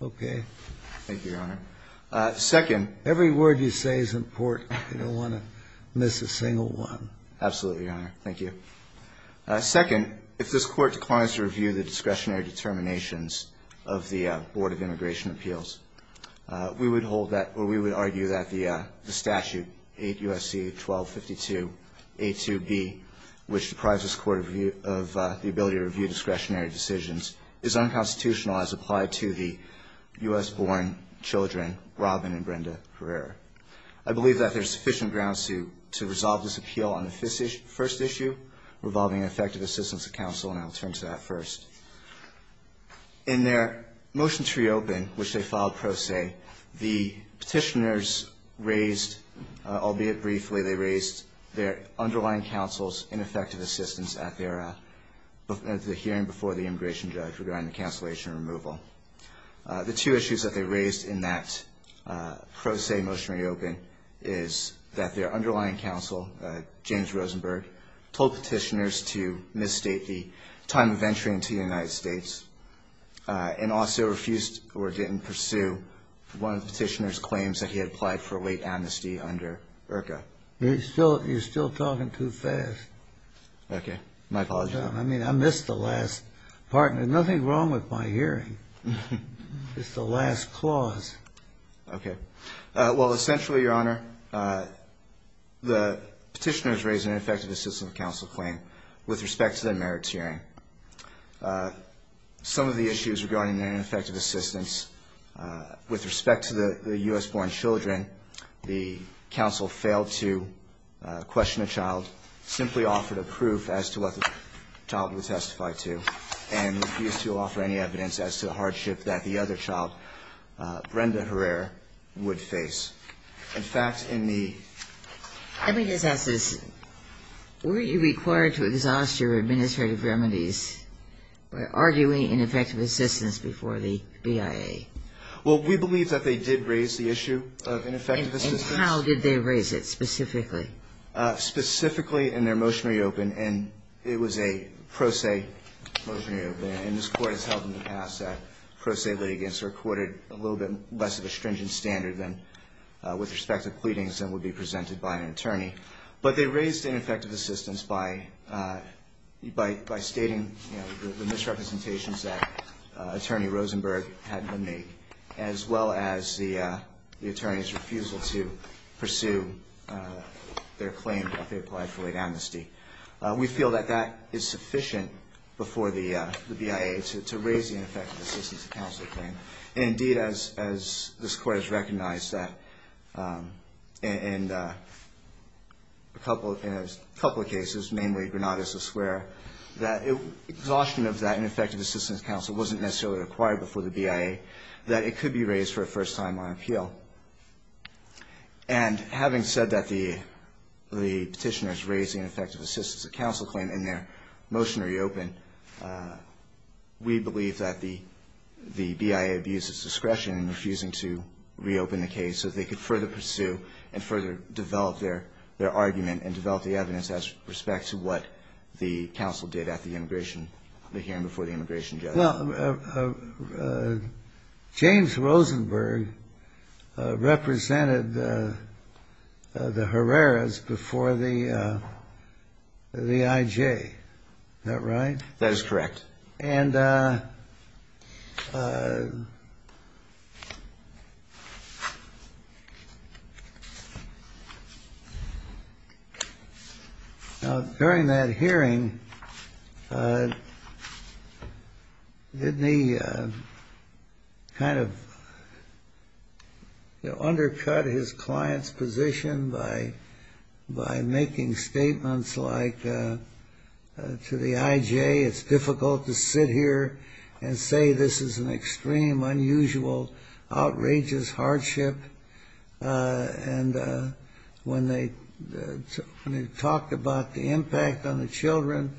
Okay. Thank you, Your Honor. Second. Every word you say is important. You don't want to miss a single one. Absolutely, Your Honor. Thank you. Second, if this Court declines to review the discretionary determinations of the Board of Immigration Appeals, we would hold that, or we would argue that the statute, 8 U.S.C. 1252 A2B, which deprives this Court of the ability to review discretionary decisions, is unconstitutional as applied to the U.S.-born children, Robin and Brenda Herrera. I believe that there's sufficient ground to resolve this appeal on the first issue, revolving effective assistance to counsel, and I'll turn to that first. In their motion to reopen, which they filed pro se, the petitioners raised, albeit briefly, they raised their underlying counsel's ineffective assistance at the hearing before the immigration judge regarding the cancellation and removal. The two issues that they raised in that pro se motion to reopen is that their underlying counsel, James Rosenberg, told petitioners to misstate the time of entry into the United States and also refused or didn't pursue one of the petitioners' claims that he had applied for late amnesty under IRCA. You're still talking too fast. Okay. My apologies. I mean, I missed the last part, and there's nothing wrong with my hearing. It's the last clause. Okay. Well, essentially, Your Honor, the petitioners raised an ineffective assistance of counsel claim with respect to their merits hearing. Some of the issues regarding their ineffective assistance with respect to the U.S.-born children, the counsel failed to question a child, simply offered a proof as to what the child would testify to, and refused to offer any evidence as to the hardship that the other child, Brenda Herrera, would face. In fact, in the ---- Let me just ask this. Were you required to exhaust your administrative remedies by arguing ineffective assistance before the BIA? Well, we believe that they did raise the issue of ineffective assistance. And how did they raise it specifically? Specifically in their motion reopened, and it was a pro se motion reopened. And this Court has held in the past that pro se litigants are courted a little bit less of a stringent standard with respect to pleadings than would be presented by an attorney. But they raised ineffective assistance by stating the misrepresentations that Attorney Rosenberg had made, as well as the attorney's refusal to pursue their claim that they applied for late amnesty. We feel that that is sufficient before the BIA to raise the ineffective assistance counsel claim. And, indeed, as this Court has recognized that in a couple of cases, mainly Granada, that exhaustion of that ineffective assistance counsel wasn't necessarily required before the BIA, that it could be raised for a first timeline appeal. And having said that, the Petitioners raised the ineffective assistance counsel claim in their motion reopened, we believe that the BIA abused its discretion in refusing to reopen the case so they could further pursue and further develop their argument and develop the evidence as respect to what the counsel did at the immigration, the hearing before the immigration judge. Well, James Rosenberg represented the Herreras before the IJ. Is that right? That is correct. And during that hearing, didn't he kind of undercut his client's position by making statements like to the IJ, it's difficult to sit here and say this is an extreme, unusual, outrageous hardship? And when they talked about the impact on the children,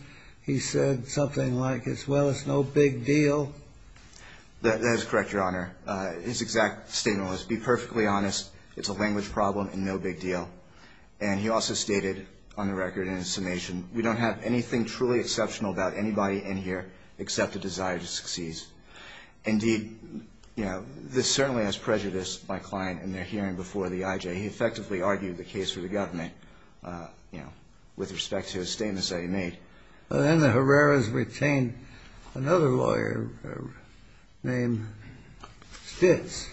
he said something like, well, it's no big deal. That is correct, Your Honor. His exact statement was, be perfectly honest, it's a language problem and no big deal. And he also stated on the record in his summation, we don't have anything truly exceptional about anybody in here except a desire to succeed. Indeed, you know, this certainly has prejudiced my client in their hearing before the IJ. He effectively argued the case for the government, you know, with respect to his statements that he made. Then the Herreras retained another lawyer named Stitz.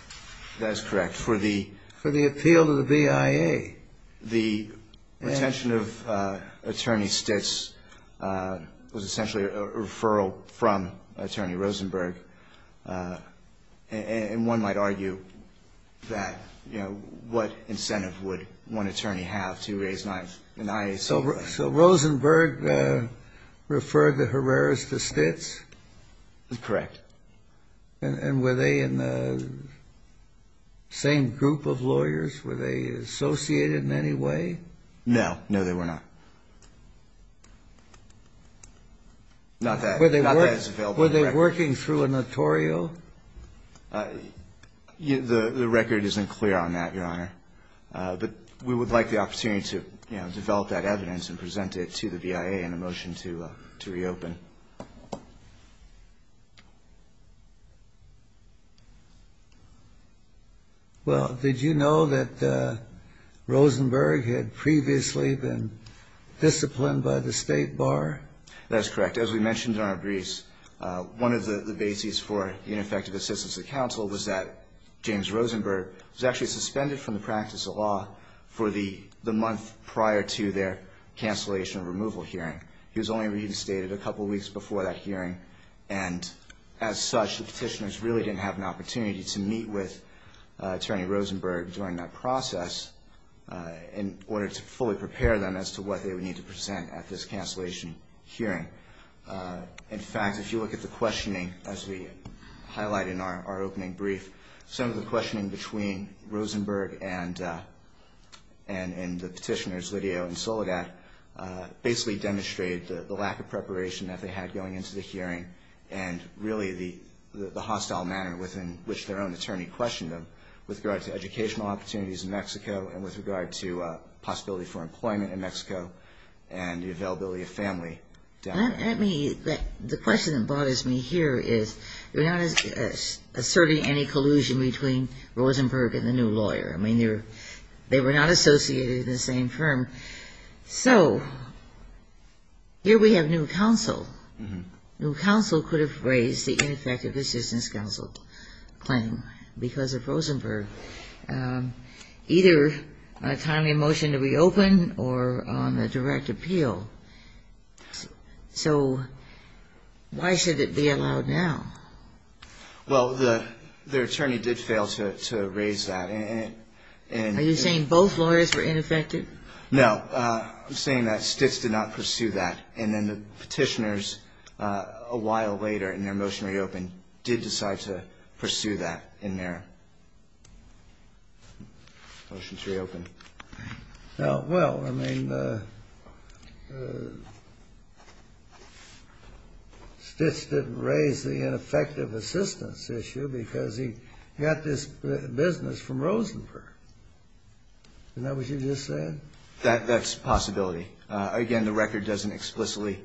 That is correct. For the appeal to the BIA. The retention of Attorney Stitz was essentially a referral from Attorney Rosenberg. And one might argue that, you know, what incentive would one attorney have to raise an IAC? So Rosenberg referred the Herreras to Stitz? Correct. And were they in the same group of lawyers? Were they associated in any way? No. No, they were not. Not that it's available. Were they working through a notorio? The record isn't clear on that, Your Honor. But we would like the opportunity to, you know, develop that evidence and present it to the BIA in a motion to reopen. Well, did you know that Rosenberg had previously been disciplined by the State Bar? That is correct. As we mentioned in our briefs, one of the bases for ineffective assistance to counsel was that James Rosenberg was actually suspended from the practice of law for the month prior to their cancellation removal hearing. He was only reinstated a couple weeks before that hearing. And as such, the petitioners really didn't have an opportunity to meet with Attorney Rosenberg during that process in order to fully prepare them as to what they would need to present at this cancellation hearing. In fact, if you look at the questioning, as we highlighted in our opening brief, some of the questioning between Rosenberg and the petitioners, Lidio and Soledad, basically demonstrated the lack of preparation that they had going into the hearing and really the hostile manner within which their own attorney questioned them with regard to educational opportunities in Mexico and with regard to possibility for employment in Mexico and the availability of family. The question that bothers me here is you're not asserting any collusion between Rosenberg and the new lawyer. I mean, they were not associated in the same firm. So here we have new counsel. New counsel could have raised the ineffective assistance counsel claim because of Rosenberg, either on a timely motion to reopen or on a direct appeal. So why should it be allowed now? Well, their attorney did fail to raise that. Are you saying both lawyers were ineffective? No. I'm saying that Stitz did not pursue that. And then the petitioners, a while later in their motion to reopen, did decide to pursue that in their motion to reopen. Well, I mean, Stitz didn't raise the ineffective assistance issue because he got this business from Rosenberg. Isn't that what you just said? That's a possibility. Again, the record doesn't explicitly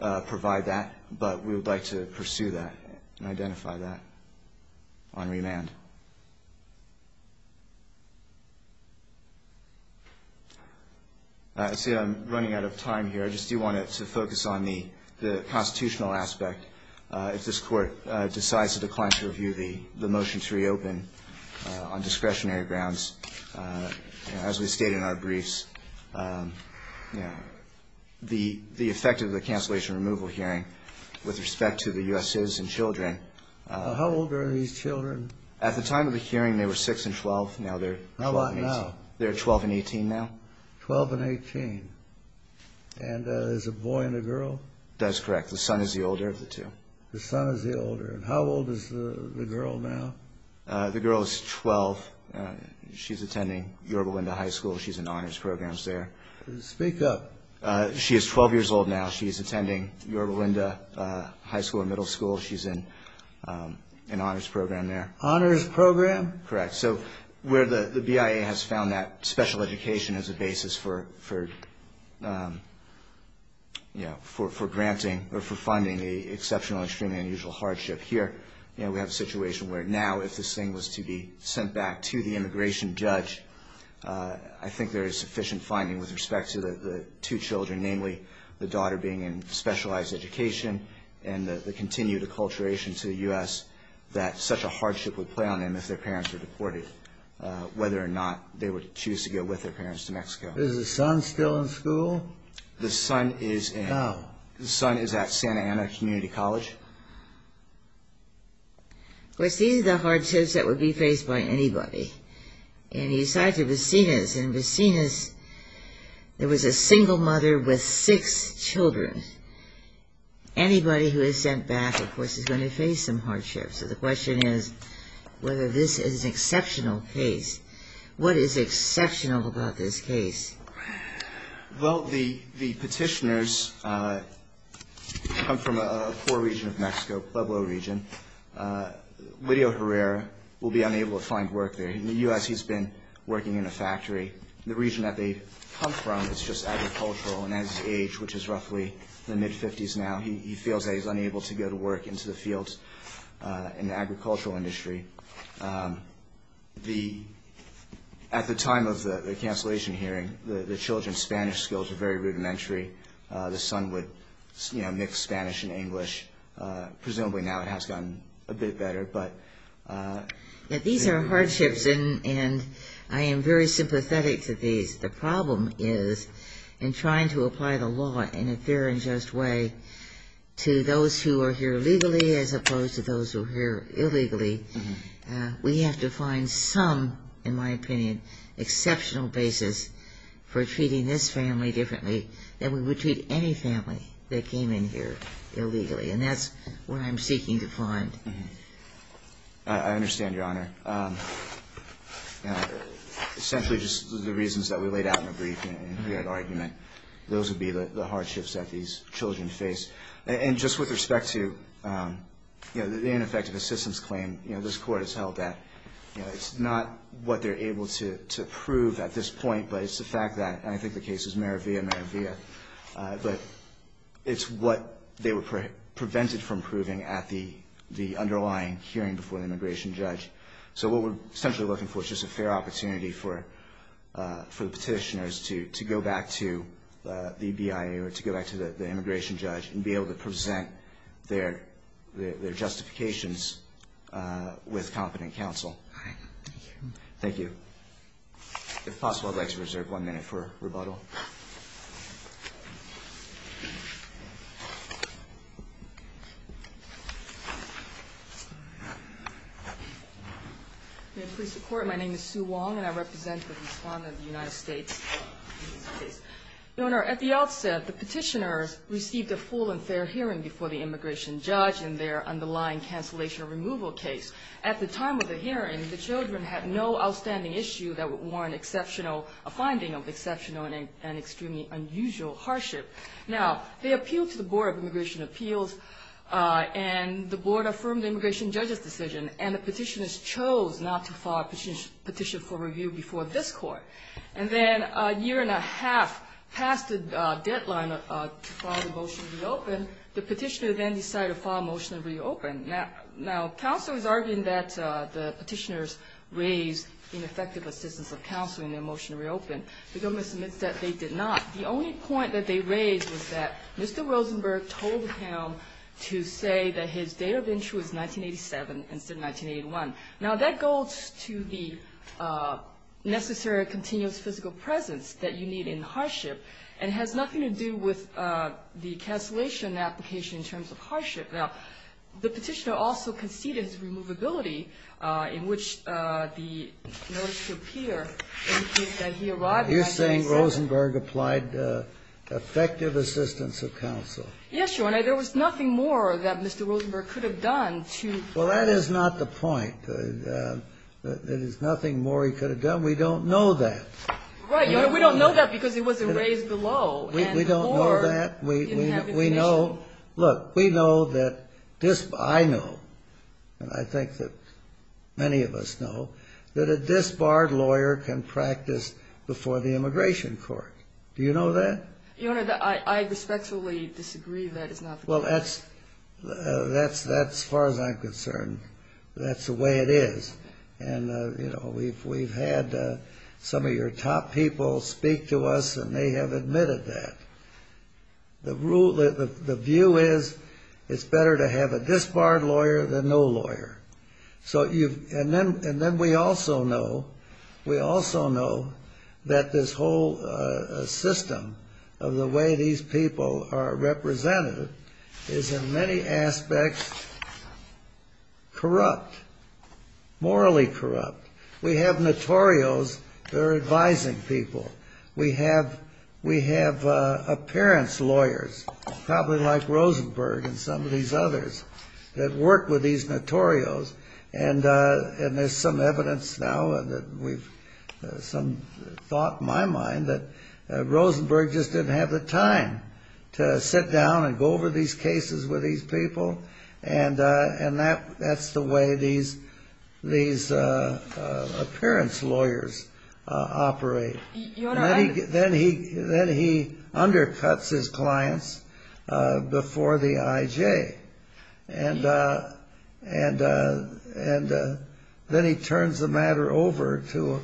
provide that, but we would like to pursue that and identify that on remand. I see I'm running out of time here. I just do want to focus on the constitutional aspect. If this Court decides to decline to review the motion to reopen on discretionary grounds, as we state in our briefs, the effect of the cancellation removal hearing with respect to the U.S. citizens and children. How old are these children? At the time of the hearing, they were 6 and 12. How about now? They're 12 and 18 now. 12 and 18. And there's a boy and a girl? That's correct. The son is the older of the two. The son is the older. And how old is the girl now? The girl is 12. She's attending Yorba Wenda High School. She's in honors programs there. Speak up. She is 12 years old now. She's attending Yorba Wenda High School and Middle School. She's in an honors program there. Honors program? Correct. So where the BIA has found that special education as a basis for granting or for funding the exceptional, extremely unusual hardship here, we have a situation where now if this thing was to be sent back to the immigration judge, I think there is sufficient finding with respect to the two children, namely the daughter being in specialized education and the continued acculturation to the U.S., that such a hardship would play on them if their parents were deported, whether or not they would choose to go with their parents to Mexico. Is the son still in school? The son is at Santa Ana Community College. Of course, these are the hardships that would be faced by anybody. And he's tied to Vicinas, and in Vicinas there was a single mother with six children. Anybody who is sent back, of course, is going to face some hardship. So the question is whether this is an exceptional case. What is exceptional about this case? Well, the petitioners come from a poor region of Mexico, Pueblo region. Lidio Herrera will be unable to find work there. In the U.S. he's been working in a factory. The region that they come from is just agricultural, and at his age, which is roughly the mid-50s now, he feels that he's unable to go to work into the fields in the agricultural industry. At the time of the cancellation hearing, the children's Spanish skills were very rudimentary. The son would mix Spanish and English. Presumably now it has gotten a bit better. These are hardships, and I am very sympathetic to these. The problem is in trying to apply the law in a fair and just way to those who are here legally as opposed to those who are here illegally, we have to find some, in my opinion, exceptional basis for treating this family differently than we would treat any family that came in here illegally. And that's what I'm seeking to find. I understand, Your Honor. Essentially, just the reasons that we laid out in the briefing, the argument, those would be the hardships that these children face. And just with respect to the ineffective assistance claim, this Court has held that it's not what they're able to prove at this point, but it's the fact that, and I think the case is Meravia, Meravia, but it's what they were prevented from proving at the underlying hearing before the immigration judge. So what we're essentially looking for is just a fair opportunity for the petitioners to go back to the BIA or to go back to the immigration judge and be able to present their justifications with competent counsel. All right. Thank you. Thank you. If possible, I'd like to reserve one minute for rebuttal. May it please the Court, my name is Sue Wong, and I represent the Respondent of the United States. Your Honor, at the outset, the petitioners received a full and fair hearing before the immigration judge in their underlying cancellation removal case. At the time of the hearing, the children had no outstanding issue that would warrant a finding of exceptional and extremely unusual hardship. Now, they appealed to the Board of Immigration Appeals, and the Board affirmed the immigration judge's decision, and the petitioners chose not to file a petition for review before this Court. And then a year and a half past the deadline to file the motion to reopen, the petitioner then decided to file a motion to reopen. Now, counsel is arguing that the petitioners raised ineffective assistance of counsel in their motion to reopen. The government submits that they did not. The only point that they raised was that Mr. Rosenberg told him to say that his date of entry was 1987 instead of 1981. Now, that goes to the necessary continuous physical presence that you need in hardship, and it has nothing to do with the cancellation application in terms of hardship. Now, the petitioner also conceded his removability in which the notice would appear that he arrived in 1987. You're saying Rosenberg applied effective assistance of counsel? Yes, Your Honor. There was nothing more that Mr. Rosenberg could have done to add to that. Well, that is not the point. There is nothing more he could have done. We don't know that. Right, Your Honor. We don't know that because it wasn't raised below. We don't know that. We know. Look, we know that I know, and I think that many of us know, that a disbarred lawyer can practice before the Immigration Court. Do you know that? Your Honor, I respectfully disagree that is not the case. Well, that's as far as I'm concerned. That's the way it is. And, you know, we've had some of your top people speak to us, and they have admitted that. The view is it's better to have a disbarred lawyer than no lawyer. And then we also know that this whole system of the way these people are represented is, in many aspects, corrupt, morally corrupt. We have notorios that are advising people. We have appearance lawyers, probably like Rosenberg and some of these others, that work with these notorios. And there's some evidence now that we've some thought in my mind that Rosenberg just didn't have the time to sit down and go over these cases with these people, and that's the way these appearance lawyers operate. Your Honor, I Then he undercuts his clients before the IJ. And then he turns the matter over to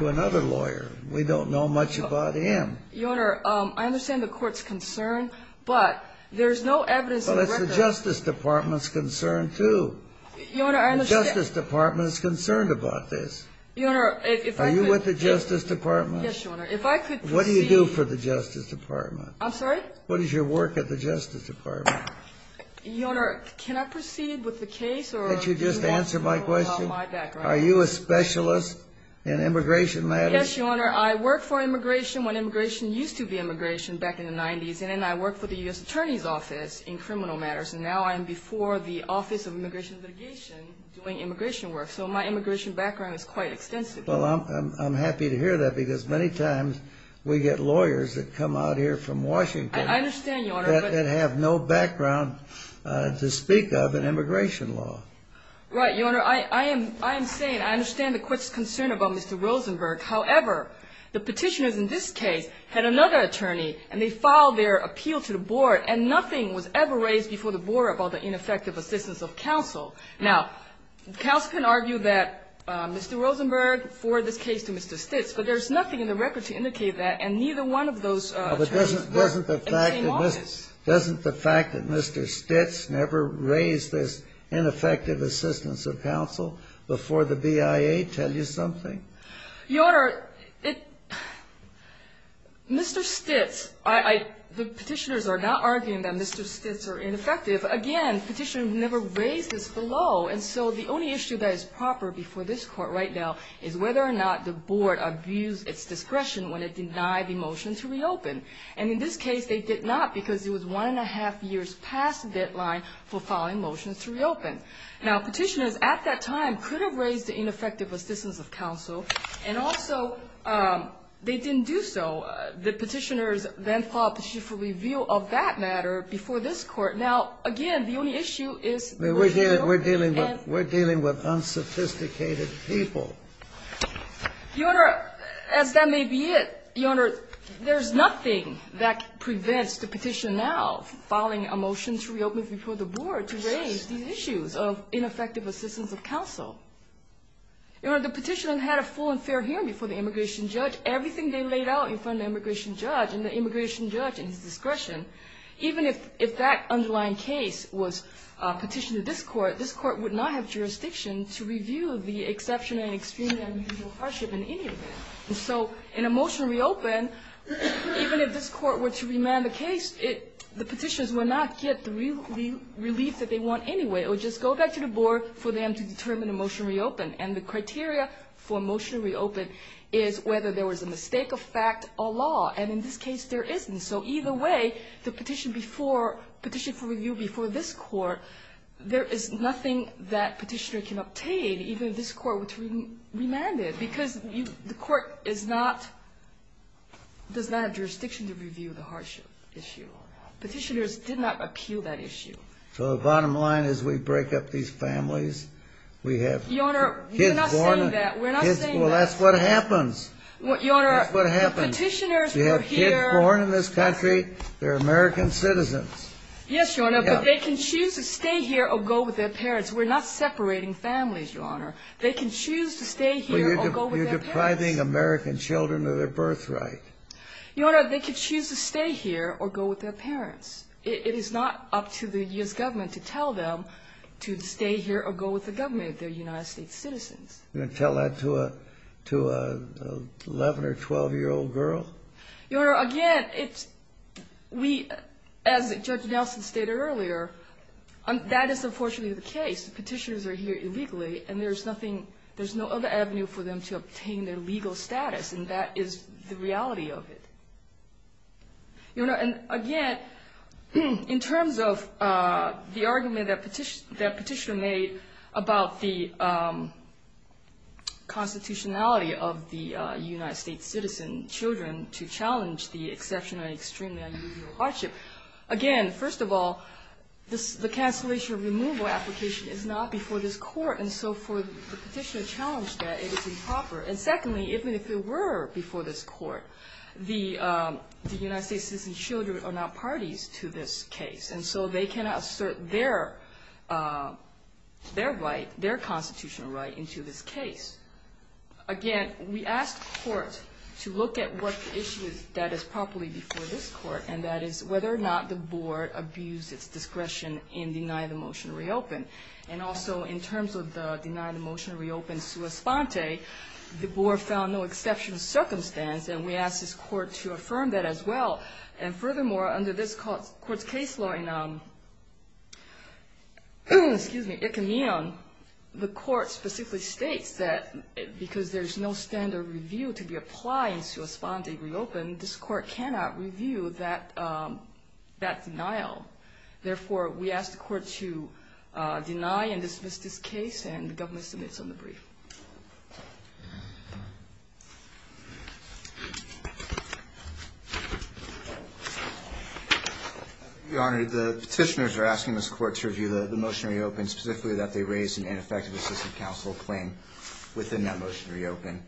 another lawyer. We don't know much about him. Your Honor, I understand the Court's concern, but there's no evidence in the record Well, it's the Justice Department's concern, too. Your Honor, I understand The Justice Department is concerned about this. Your Honor, if I could Are you with the Justice Department? Yes, Your Honor. If I could proceed What do you do for the Justice Department? I'm sorry? What is your work at the Justice Department? Your Honor, can I proceed with the case? Can't you just answer my question? Are you a specialist in immigration matters? Yes, Your Honor. I worked for immigration when immigration used to be immigration back in the 90s. And then I worked for the U.S. Attorney's Office in criminal matters. And now I'm before the Office of Immigration and Litigation doing immigration work. So my immigration background is quite extensive. Well, I'm happy to hear that because many times we get lawyers that come out here from Washington I understand, Your Honor, but that have no background to speak of in immigration law. Right. Your Honor, I am saying I understand the Court's concern about Mr. Rosenberg. However, the petitioners in this case had another attorney, and they filed their appeal to the board, and nothing was ever raised before the board about the ineffective assistance of counsel. Now, counsel can argue that Mr. Rosenberg forwarded this case to Mr. Stitz, but there's nothing in the record to indicate that, and neither one of those attorneys were in the same office. Doesn't the fact that Mr. Stitz never raised this ineffective assistance of counsel before the BIA tell you something? Your Honor, it Mr. Stitz, I the petitioners are not arguing that Mr. Stitz are ineffective. Again, petitioners never raised this below, and so the only issue that is proper before this Court right now is whether or not the board abused its discretion when it denied the motion to reopen. And in this case, they did not because it was one and a half years past the deadline for filing motions to reopen. Now, petitioners at that time could have raised the ineffective assistance of counsel, and also they didn't do so. The petitioners then filed a petition for review of that matter before this Court. Now, again, the only issue is that we're dealing with unsophisticated people. Your Honor, as that may be it, Your Honor, there's nothing that prevents the petitioner now filing a motion to reopen before the board to raise these issues of ineffective assistance of counsel. Your Honor, the petitioner had a full and fair hearing before the immigration judge. was petitioned to this Court, this Court would not have jurisdiction to review the exceptional and extremely unusual hardship in any of it. And so in a motion to reopen, even if this Court were to remand the case, the petitioners would not get the relief that they want anyway. It would just go back to the board for them to determine a motion to reopen. And the criteria for a motion to reopen is whether there was a mistake of fact or law. And in this case, there isn't. So either way, the petition before, petition for review before this Court, there is nothing that petitioner can obtain, even if this Court were to remand it, because the Court is not, does not have jurisdiction to review the hardship issue. Petitioners did not appeal that issue. So the bottom line is we break up these families. We have kids born. Your Honor, we're not saying that. We're not saying that. Well, that's what happens. Your Honor, petitioners were here. They were born in this country. They're American citizens. Yes, Your Honor, but they can choose to stay here or go with their parents. We're not separating families, Your Honor. They can choose to stay here or go with their parents. But you're depriving American children of their birthright. Your Honor, they can choose to stay here or go with their parents. It is not up to the U.S. government to tell them to stay here or go with the government if they're United States citizens. You're going to tell that to an 11- or 12-year-old girl? Your Honor, again, as Judge Nelson stated earlier, that is unfortunately the case. Petitioners are here illegally, and there's no other avenue for them to obtain their legal status, and that is the reality of it. Your Honor, and again, in terms of the argument that Petitioner made about the constitutionality of the United States citizen children to challenge the exceptional and extremely unusual hardship, again, first of all, the cancellation of removal application is not before this court, and so for the Petitioner to challenge that, it is improper. And secondly, even if it were before this court, the United States citizen children are not parties to this case, and so they cannot assert their right, their constitutional right into this case. Again, we asked the court to look at what the issue is that is properly before this court, and that is whether or not the board abused its discretion in denying the motion to reopen. And also, in terms of the denying the motion to reopen sua sponte, the board found no exceptional circumstance, and we asked this court to affirm that as well. And furthermore, under this court's case law in Icamion, the court specifically states that because there is no standard review to be applied in sua sponte reopen, this court cannot review that denial. Therefore, we asked the court to deny and dismiss this case, and the government submits on the brief. Your Honor, the Petitioners are asking this court to review the motion to reopen, specifically that they raised an ineffective assistant counsel claim within that motion to reopen.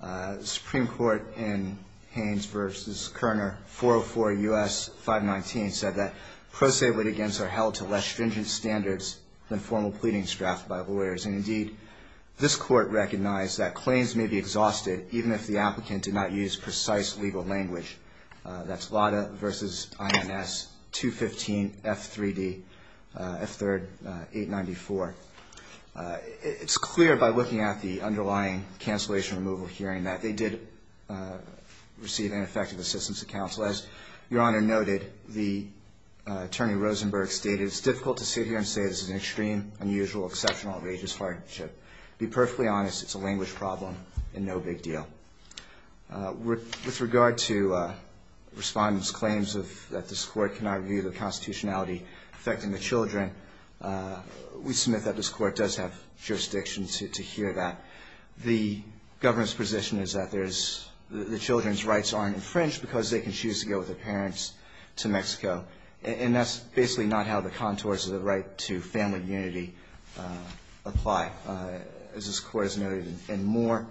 The Supreme Court in Haynes v. Kerner, 404 U.S. 519, said that pro se litigants are held to less stringent standards than formal pleadings drafted by lawyers. And indeed, this court recognized that claims may be exhausted even if the applicant did not use precise legal language. That's Lada v. INS 215 F3D, F3rd 894. It's clear by looking at the underlying cancellation removal hearing that they did receive ineffective assistance of counsel. As Your Honor noted, the attorney Rosenberg stated, it's difficult to sit here and say this is an extreme, unusual, exceptional, outrageous hardship. To be perfectly honest, it's a language problem and no big deal. With regard to respondents' claims that this court cannot review the constitutionality affecting the children, we submit that this court does have jurisdiction to hear that. The government's position is that the children's rights aren't infringed because they can choose to go with their parents to Mexico. And that's basically not how the contours of the right to family unity apply. As this Court has noted in Moore,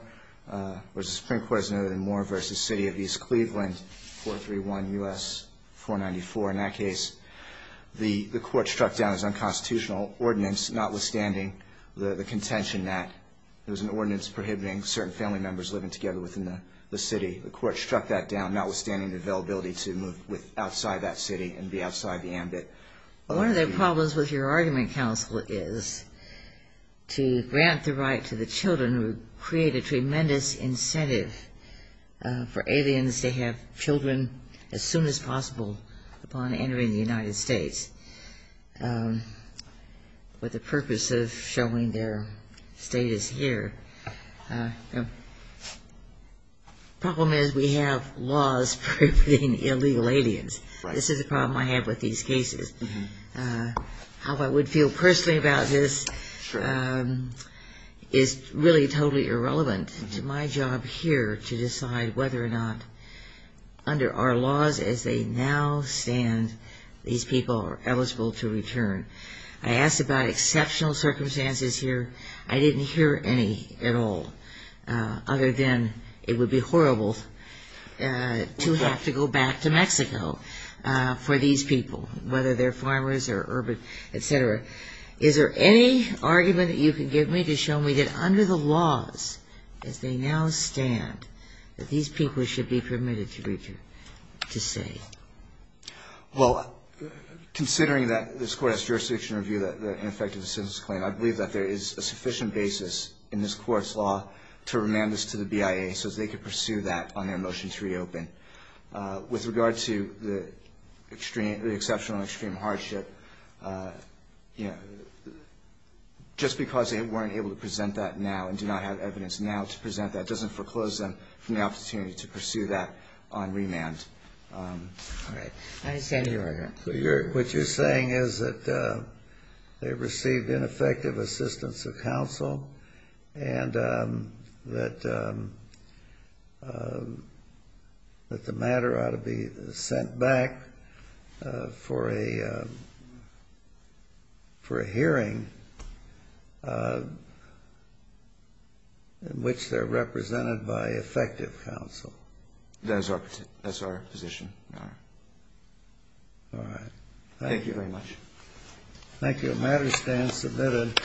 or as the Supreme Court has noted in Moore v. City of East Cleveland, 431 U.S. 494. In that case, the court struck down as unconstitutional ordinance, notwithstanding the contention that there was an ordinance prohibiting certain family members living together within the city. The court struck that down, notwithstanding the availability to move outside that city and be outside the ambit. One of the problems with your argument, counsel, is to grant the right to the children would create a tremendous incentive for aliens to have children as soon as possible upon entering the United States. But the purpose of showing their status here, the problem is we have laws prohibiting illegal aliens. This is a problem I have with these cases. How I would feel personally about this is really totally irrelevant to my job here to decide whether or not, under our laws as they now stand, these people are eligible to return. I asked about exceptional circumstances here. I didn't hear any at all other than it would be horrible to have to go back to Mexico for these people, whether they're farmers or urban, et cetera. Is there any argument that you can give me to show me that under the laws as they now stand, that these people should be permitted to say? Well, considering that this Court has jurisdiction to review the ineffective assistance claim, I believe that there is a sufficient basis in this Court's law to remand this to the BIA so they can pursue that on their motion to reopen. With regard to the exceptional and extreme hardship, you know, just because they weren't able to present that now and do not have evidence now to present that doesn't foreclose them from the opportunity to pursue that on remand. All right. I understand your argument. What you're saying is that they received ineffective assistance of counsel and that the matter ought to be sent back for a hearing in which they're represented by effective counsel. That's our position. All right. Thank you very much. Thank you. The matter stands submitted.